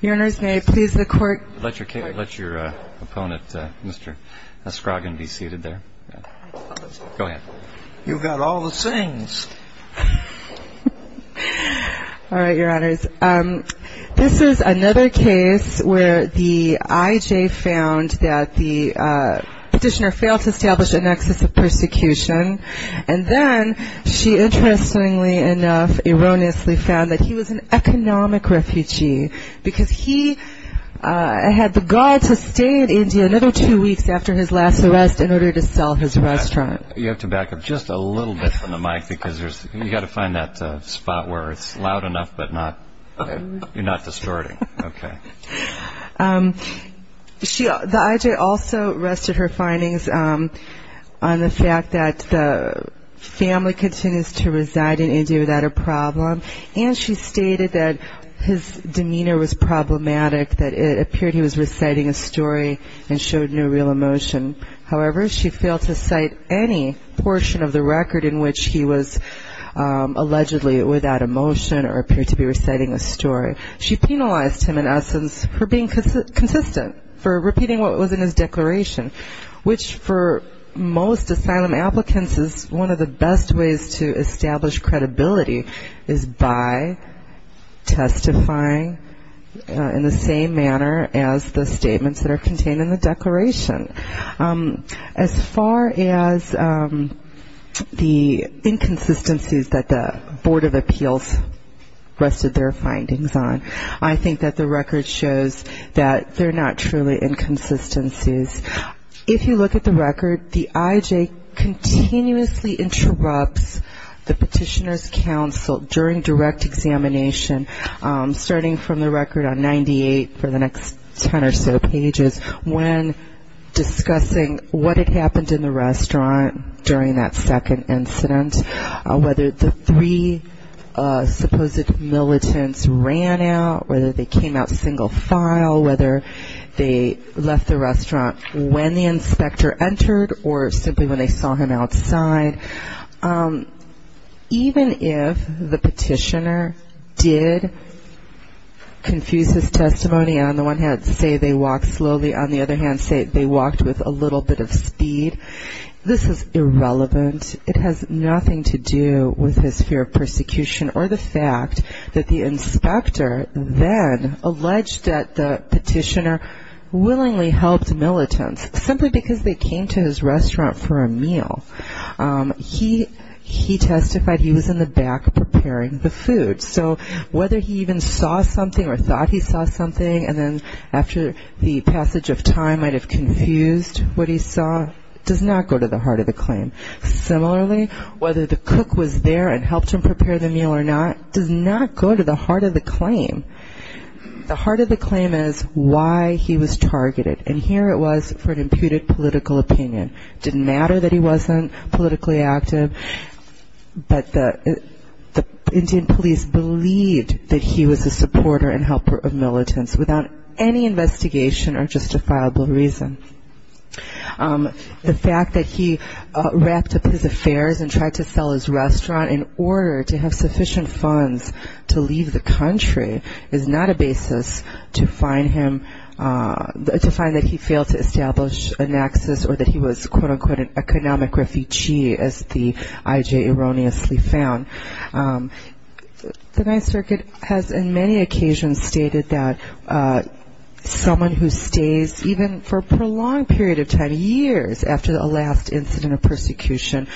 Your Honors, may I please the court? Let your opponent, Mr. Skragan, be seated there. Go ahead. You've got all the sayings. All right, Your Honors. This is another case where the IJ found that the petitioner failed to establish a nexus of persecution, and then she interestingly enough erroneously found that he was an economic refugee, because he had the gall to stay in India another two weeks after his last arrest in order to sell his restaurant. You have to back up just a little bit from the mic, because you've got to find that spot where it's loud enough, but you're not distorting. Okay. The IJ also continues to reside in India without a problem, and she stated that his demeanor was problematic, that it appeared he was reciting a story and showed no real emotion. However, she failed to cite any portion of the record in which he was allegedly without emotion or appeared to be reciting a story. She penalized him, in essence, for being consistent, for repeating what was in his declaration, which for most asylum applicants is one of the best ways to establish credibility, is by testifying in the same manner as the statements that are contained in the declaration. As far as the inconsistencies that the Board of Appeals rested their findings on, I think that the record shows that they're not truly inconsistencies. If you look at the record, the IJ continuously interrupts the Petitioner's Council during direct examination, starting from the record on 98 for the next ten or so pages, when discussing what had happened in the restaurant during that second incident, whether the three supposed militants ran out, whether they came out single file, whether they left the restaurant when the inspector entered or simply when they saw him outside. Even if the Petitioner did confuse his testimony, on the one hand say they walked slowly, on the other hand say they walked with a little bit of speed, this is irrelevant. It has nothing to do with his fear of persecution or the fact that the inspector then alleged that the Petitioner willingly helped militants simply because they came to his restaurant for a meal. He testified he was in the back preparing the food. So whether he even saw something or thought he might have confused what he saw does not go to the heart of the claim. Similarly, whether the cook was there and helped him prepare the meal or not does not go to the heart of the claim. The heart of the claim is why he was targeted, and here it was for an imputed political opinion. It didn't matter that he wasn't politically active, but the Indian police believed that he was a supporter and helper of militants without any investigation or justifiable reason. The fact that he wrapped up his affairs and tried to sell his restaurant in order to have sufficient funds to leave the country is not a basis to find him, to find that he failed to establish a nexus or that he was quote unquote an economic refugee as the IJ erroneously found. The Ninth Circuit has in many occasions stated that someone who stays even for a prolonged period of time, years after a last incident of persecution,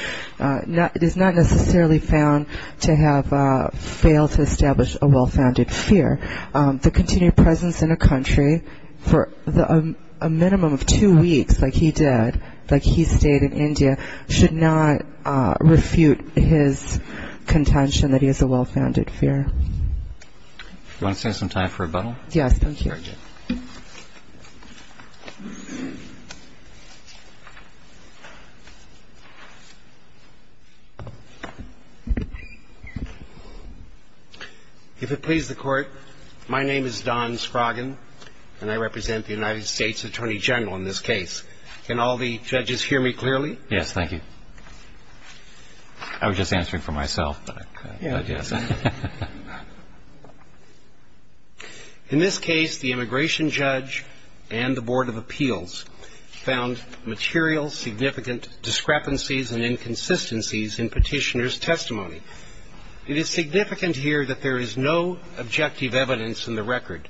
is not necessarily found to have failed to establish a well-founded fear. The continued presence in a country for a minimum of two weeks like he did, like he stayed in India, should not refute his contention that he has a well-founded fear. Do you want to stand sometime for rebuttal? Yes, thank you. Very good. If it pleases the Court, my name is Don Scroggin, and I represent the United States Attorney General in this case. Can all the judges hear me clearly? Yes, thank you. I was just answering for myself, but I guess. In this case, the immigration judge and the Board of Appeals found material significant discrepancies and inconsistencies in Petitioner's testimony. It is significant here that there is no objective evidence in the record.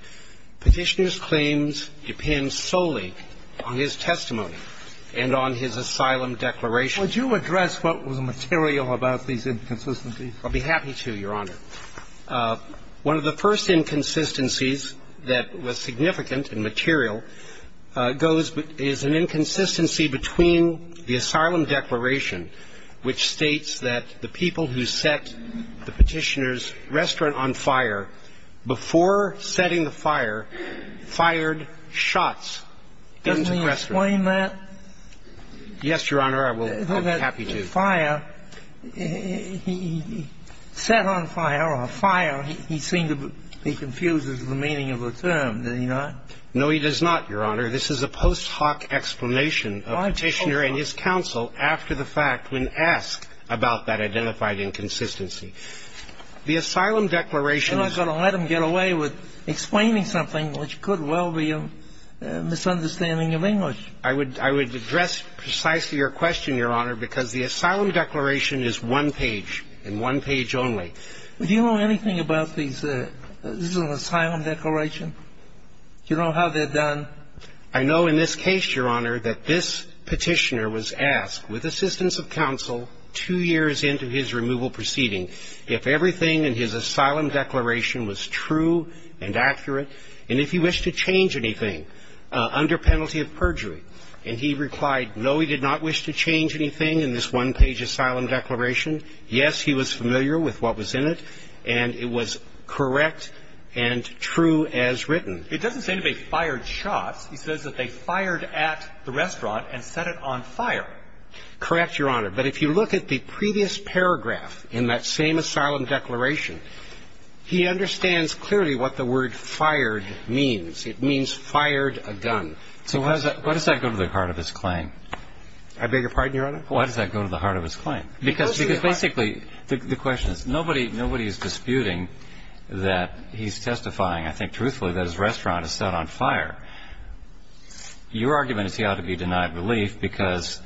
Petitioner's claims depend solely on his testimony and on his asylum declaration. Would you address what was material about these inconsistencies? I'd be happy to, Your Honor. One of the first inconsistencies that was significant and material goes – is an inconsistency between the asylum declaration, which states that the people who set the Petitioner's restaurant on fire before setting the fire fired shots into the restaurant. Can you explain that? Yes, Your Honor, I will. I'd be happy to. The fire, he set on fire or fire, he seemed to be confused as to the meaning of the term. Did he not? No, he does not, Your Honor. This is a post hoc explanation of Petitioner and his counsel after the fact when asked about that identified inconsistency. The asylum declaration I'm not going to let him get away with explaining something which could well be a misunderstanding of English. I would address precisely your question, Your Honor, because the asylum declaration is one page and one page only. Do you know anything about these – this is an asylum declaration? Do you know how they're done? I know in this case, Your Honor, that this Petitioner was asked with assistance of counsel two years into his removal proceeding if everything in his asylum declaration was true and accurate, and if he wished to change anything under penalty of perjury. And he replied, no, he did not wish to change anything in this one-page asylum declaration. Yes, he was familiar with what was in it, and it was correct and true as written. It doesn't say they fired shots. It says that they fired at the restaurant and set it on fire. Correct, Your Honor. But if you look at the previous paragraph in that same asylum declaration, he understands clearly what the word fired means. It means fired a gun. So why does that go to the heart of his claim? I beg your pardon, Your Honor? Why does that go to the heart of his claim? Because basically the question is nobody is disputing that he's testifying, I think truthfully, that his restaurant is set on fire. Your argument is he ought to be denied relief because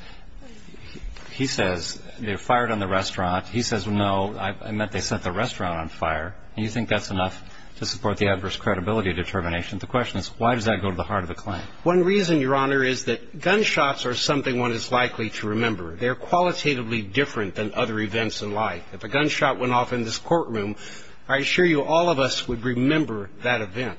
he says they fired on the restaurant. He says, no, I meant they set the restaurant on fire, and you think that's enough to support the adverse credibility determination. The question is why does that go to the heart of the claim? One reason, Your Honor, is that gunshots are something one is likely to remember. They're qualitatively different than other events in life. If a gunshot went off in this courtroom, I assure you all of us would remember that event.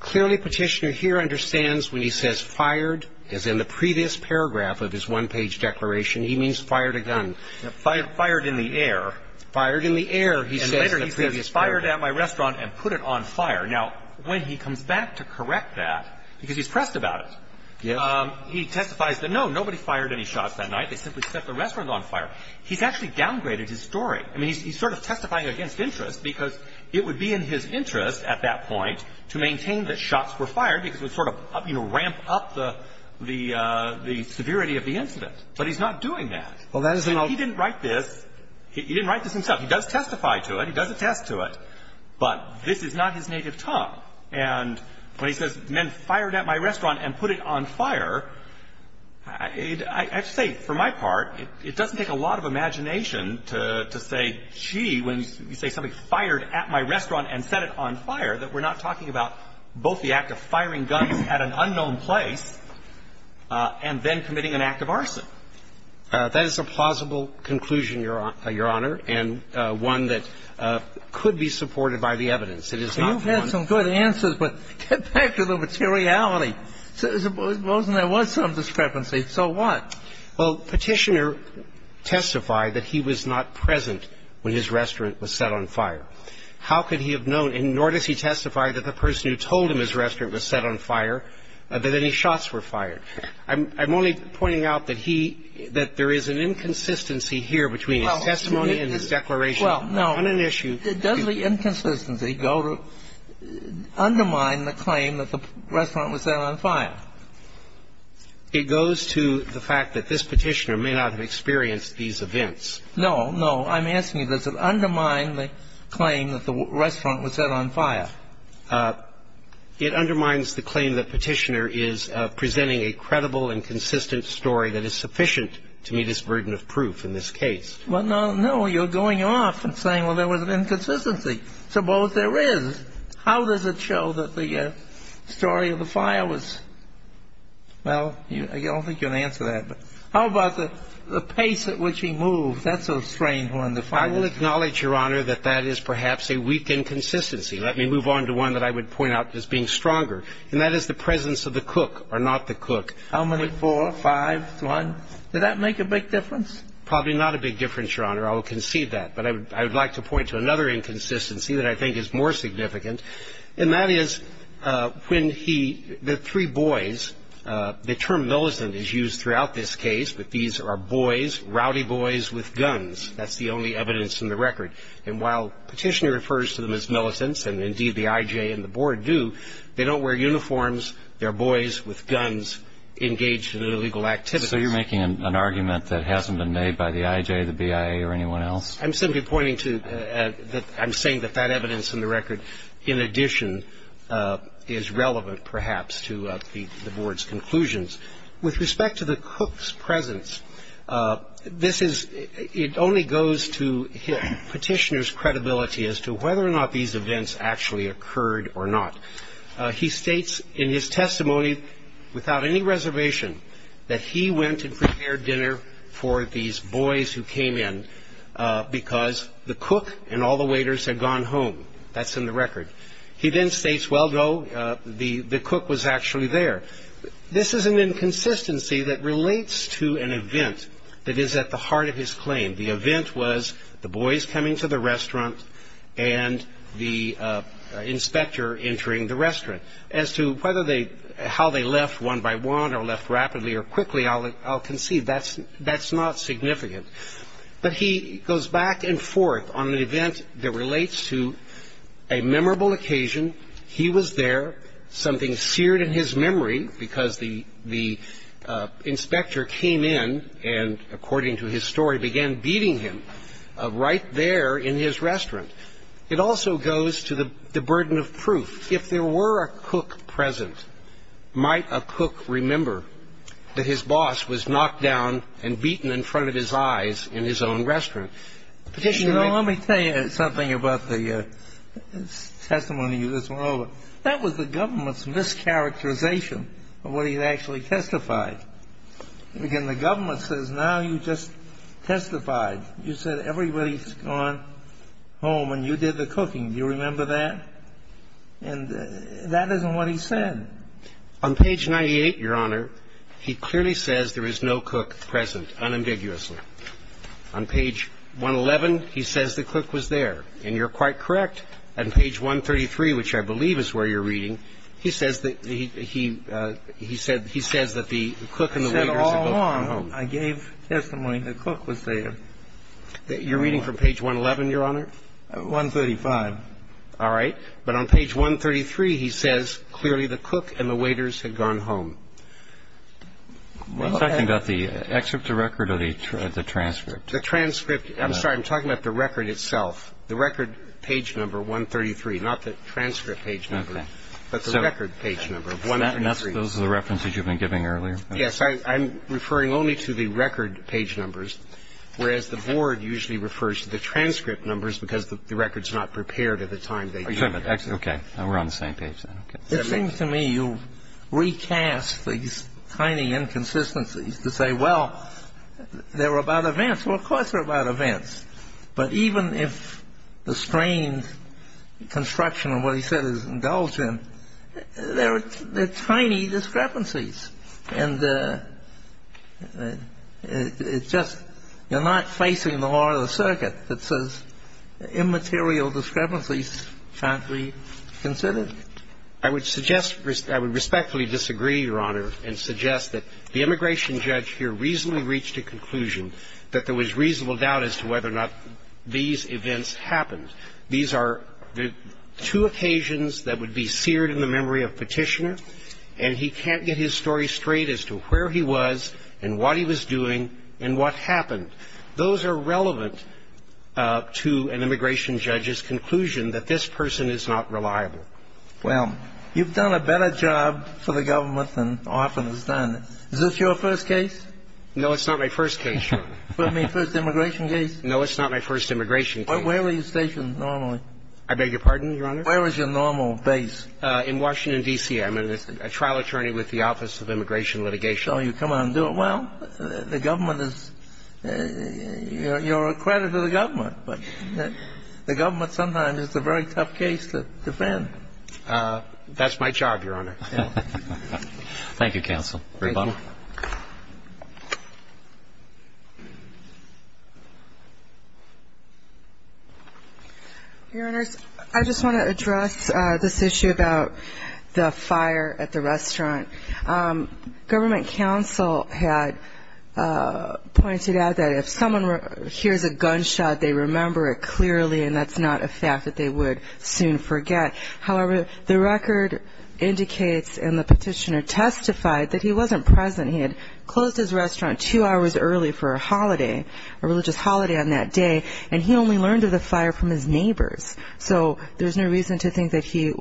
Clearly Petitioner here understands when he says fired, as in the previous paragraph of his one-page declaration, he means fired a gun. Fired in the air. Fired in the air, he says in the previous paragraph. And later he says fired at my restaurant and put it on fire. Now, when he comes back to correct that, because he's pressed about it, he testifies that, no, nobody fired any shots that night. They simply set the restaurant on fire. He's actually downgraded his story. I mean, he's sort of testifying against interest because it would be in his interest at that point to maintain that shots were fired because it would sort of, you know, ramp up the severity of the incident. But he's not doing that. He didn't write this. He didn't write this himself. He does testify to it. He does attest to it. But this is not his native tongue. And when he says men fired at my restaurant and put it on fire, I have to say, for my part, it doesn't take a lot of imagination to say, gee, when you say somebody fired at my restaurant and set it on fire, that we're not talking about both the act of firing guns at an unknown place and then committing an act of arson. That is a plausible conclusion, Your Honor, and one that could be supported by the evidence. It is not one of those. So you've had some good answers, but get back to the materiality. Suppose there was some discrepancy. So what? Well, Petitioner testified that he was not present when his restaurant was set on fire. How could he have known? And nor does he testify that the person who told him his restaurant was set on fire, that any shots were fired. I'm only pointing out that he, that there is an inconsistency here between his testimony and his declaration. Well, no. On an issue. Does the inconsistency undermine the claim that the restaurant was set on fire? It goes to the fact that this Petitioner may not have experienced these events. No, no. I'm asking you, does it undermine the claim that the restaurant was set on fire? It undermines the claim that Petitioner is presenting a credible and consistent story that is sufficient to meet his burden of proof in this case. Well, no, no. You're going off and saying, well, there was an inconsistency. Suppose there is. How does it show that the story of the fire was? Well, I don't think you can answer that, but how about the pace at which he moved? That's a strange one. I will acknowledge, Your Honor, that that is perhaps a weak inconsistency. Let me move on to one that I would point out as being stronger, and that is the presence of the cook or not the cook. How many? Four, five, one. Did that make a big difference? Probably not a big difference, Your Honor. I will concede that. But I would like to point to another inconsistency that I think is more significant, and that is when he the three boys, the term militant is used throughout this case, but these are boys, rowdy boys with guns. That's the only evidence in the record. And while Petitioner refers to them as militants, and indeed the IJ and the Board do, they don't wear uniforms. They're boys with guns engaged in illegal activities. So you're making an argument that hasn't been made by the IJ, the BIA, or anyone else? I'm simply pointing to that I'm saying that that evidence in the record, in addition, is relevant perhaps to the Board's conclusions. With respect to the cook's presence, it only goes to Petitioner's credibility as to whether or not these events actually occurred or not. He states in his testimony, without any reservation, that he went and prepared dinner for these boys who came in because the cook and all the waiters had gone home. That's in the record. He then states, well, no, the cook was actually there. This is an inconsistency that relates to an event that is at the heart of his claim. The event was the boys coming to the restaurant and the inspector entering the restaurant. As to how they left one by one or left rapidly or quickly, I'll concede that's not significant. But he goes back and forth on an event that relates to a memorable occasion. He was there. Something seared in his memory because the inspector came in and, according to his story, began beating him right there in his restaurant. It also goes to the burden of proof. If there were a cook present, might a cook remember that his boss was knocked down and beaten in front of his eyes in his own restaurant? And so really, I find... Let me tell you something about the testimony you just went over. That was the government's mischaracterization of what he had actually testified. Again, the government says now you just testified. You said everybody has gone home and you did the cooking. Do you remember that? And that isn't what he said. On page 98, Your Honor, he clearly says there is no cook present, unambiguously. On page 111, he says the cook was there. And you're quite correct. On page 133, which I believe is where you're reading, he says that the cook and the waitress had gone home. I said all along I gave testimony the cook was there. You're reading from page 111, Your Honor? 135. All right. But on page 133, he says clearly the cook and the waitress had gone home. Are you talking about the excerpt to record or the transcript? The transcript. I'm sorry. I'm talking about the record itself, the record page number 133, not the transcript page number, but the record page number of 133. So those are the references you've been giving earlier? Yes. I'm referring only to the record page numbers, whereas the board usually refers to the transcript numbers because the record's not prepared at the time they do it. Okay. We're on the same page then. It seems to me you recast these tiny inconsistencies to say, well, they were about events. Well, of course they're about events. But even if the strained construction of what he said is indulgent, they're tiny discrepancies. And it's just you're not facing the law or the circuit that says immaterial discrepancies can't be considered. I would suggest, I would respectfully disagree, Your Honor, and suggest that the immigration judge here reasonably reached a conclusion that there was reasonable doubt as to whether or not these events happened. These are two occasions that would be seared in the memory of Petitioner, and he can't get his story straight as to where he was and what he was doing and what happened. Those are relevant to an immigration judge's conclusion that this person is not reliable. Well, you've done a better job for the government than often is done. Is this your first case? No, it's not my first case, Your Honor. First immigration case? No, it's not my first immigration case. Where were you stationed normally? I beg your pardon, Your Honor? Where was your normal base? In Washington, D.C. I'm a trial attorney with the Office of Immigration Litigation. So you come out and do it well? The government is you're a credit to the government. But the government sometimes it's a very tough case to defend. That's my job, Your Honor. Thank you, counsel. Great bottle. Your Honors, I just want to address this issue about the fire at the restaurant. Government counsel had pointed out that if someone hears a gunshot, they remember it clearly, and that's not a fact that they would soon forget. However, the record indicates and the petitioner testified that he wasn't present. He had closed his restaurant two hours early for a holiday, a religious holiday on that day, and he only learned of the fire from his neighbors. So there's no reason to think that he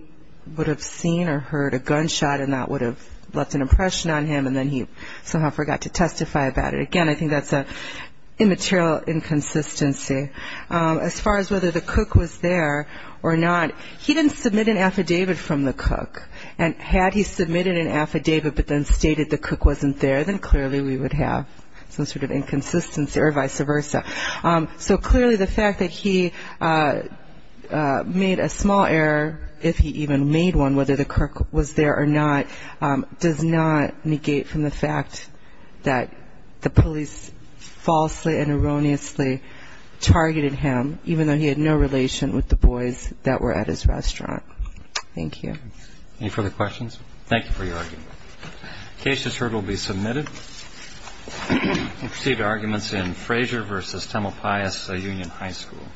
would have seen or heard a gunshot and that would have left an impression on him, and then he somehow forgot to testify about it. Again, I think that's an immaterial inconsistency. As far as whether the cook was there or not, he didn't submit an affidavit from the cook, and had he submitted an affidavit but then stated the cook wasn't there, then clearly we would have some sort of inconsistency or vice versa. So clearly the fact that he made a small error, if he even made one, whether the cook was there or not, does not negate from the fact that the police falsely and erroneously targeted him, even though he had no relation with the boys that were at his restaurant. Thank you. Any further questions? Thank you for your argument. The case is heard and will be submitted. We'll proceed to arguments in Fraser v. Temple Pius Union High School.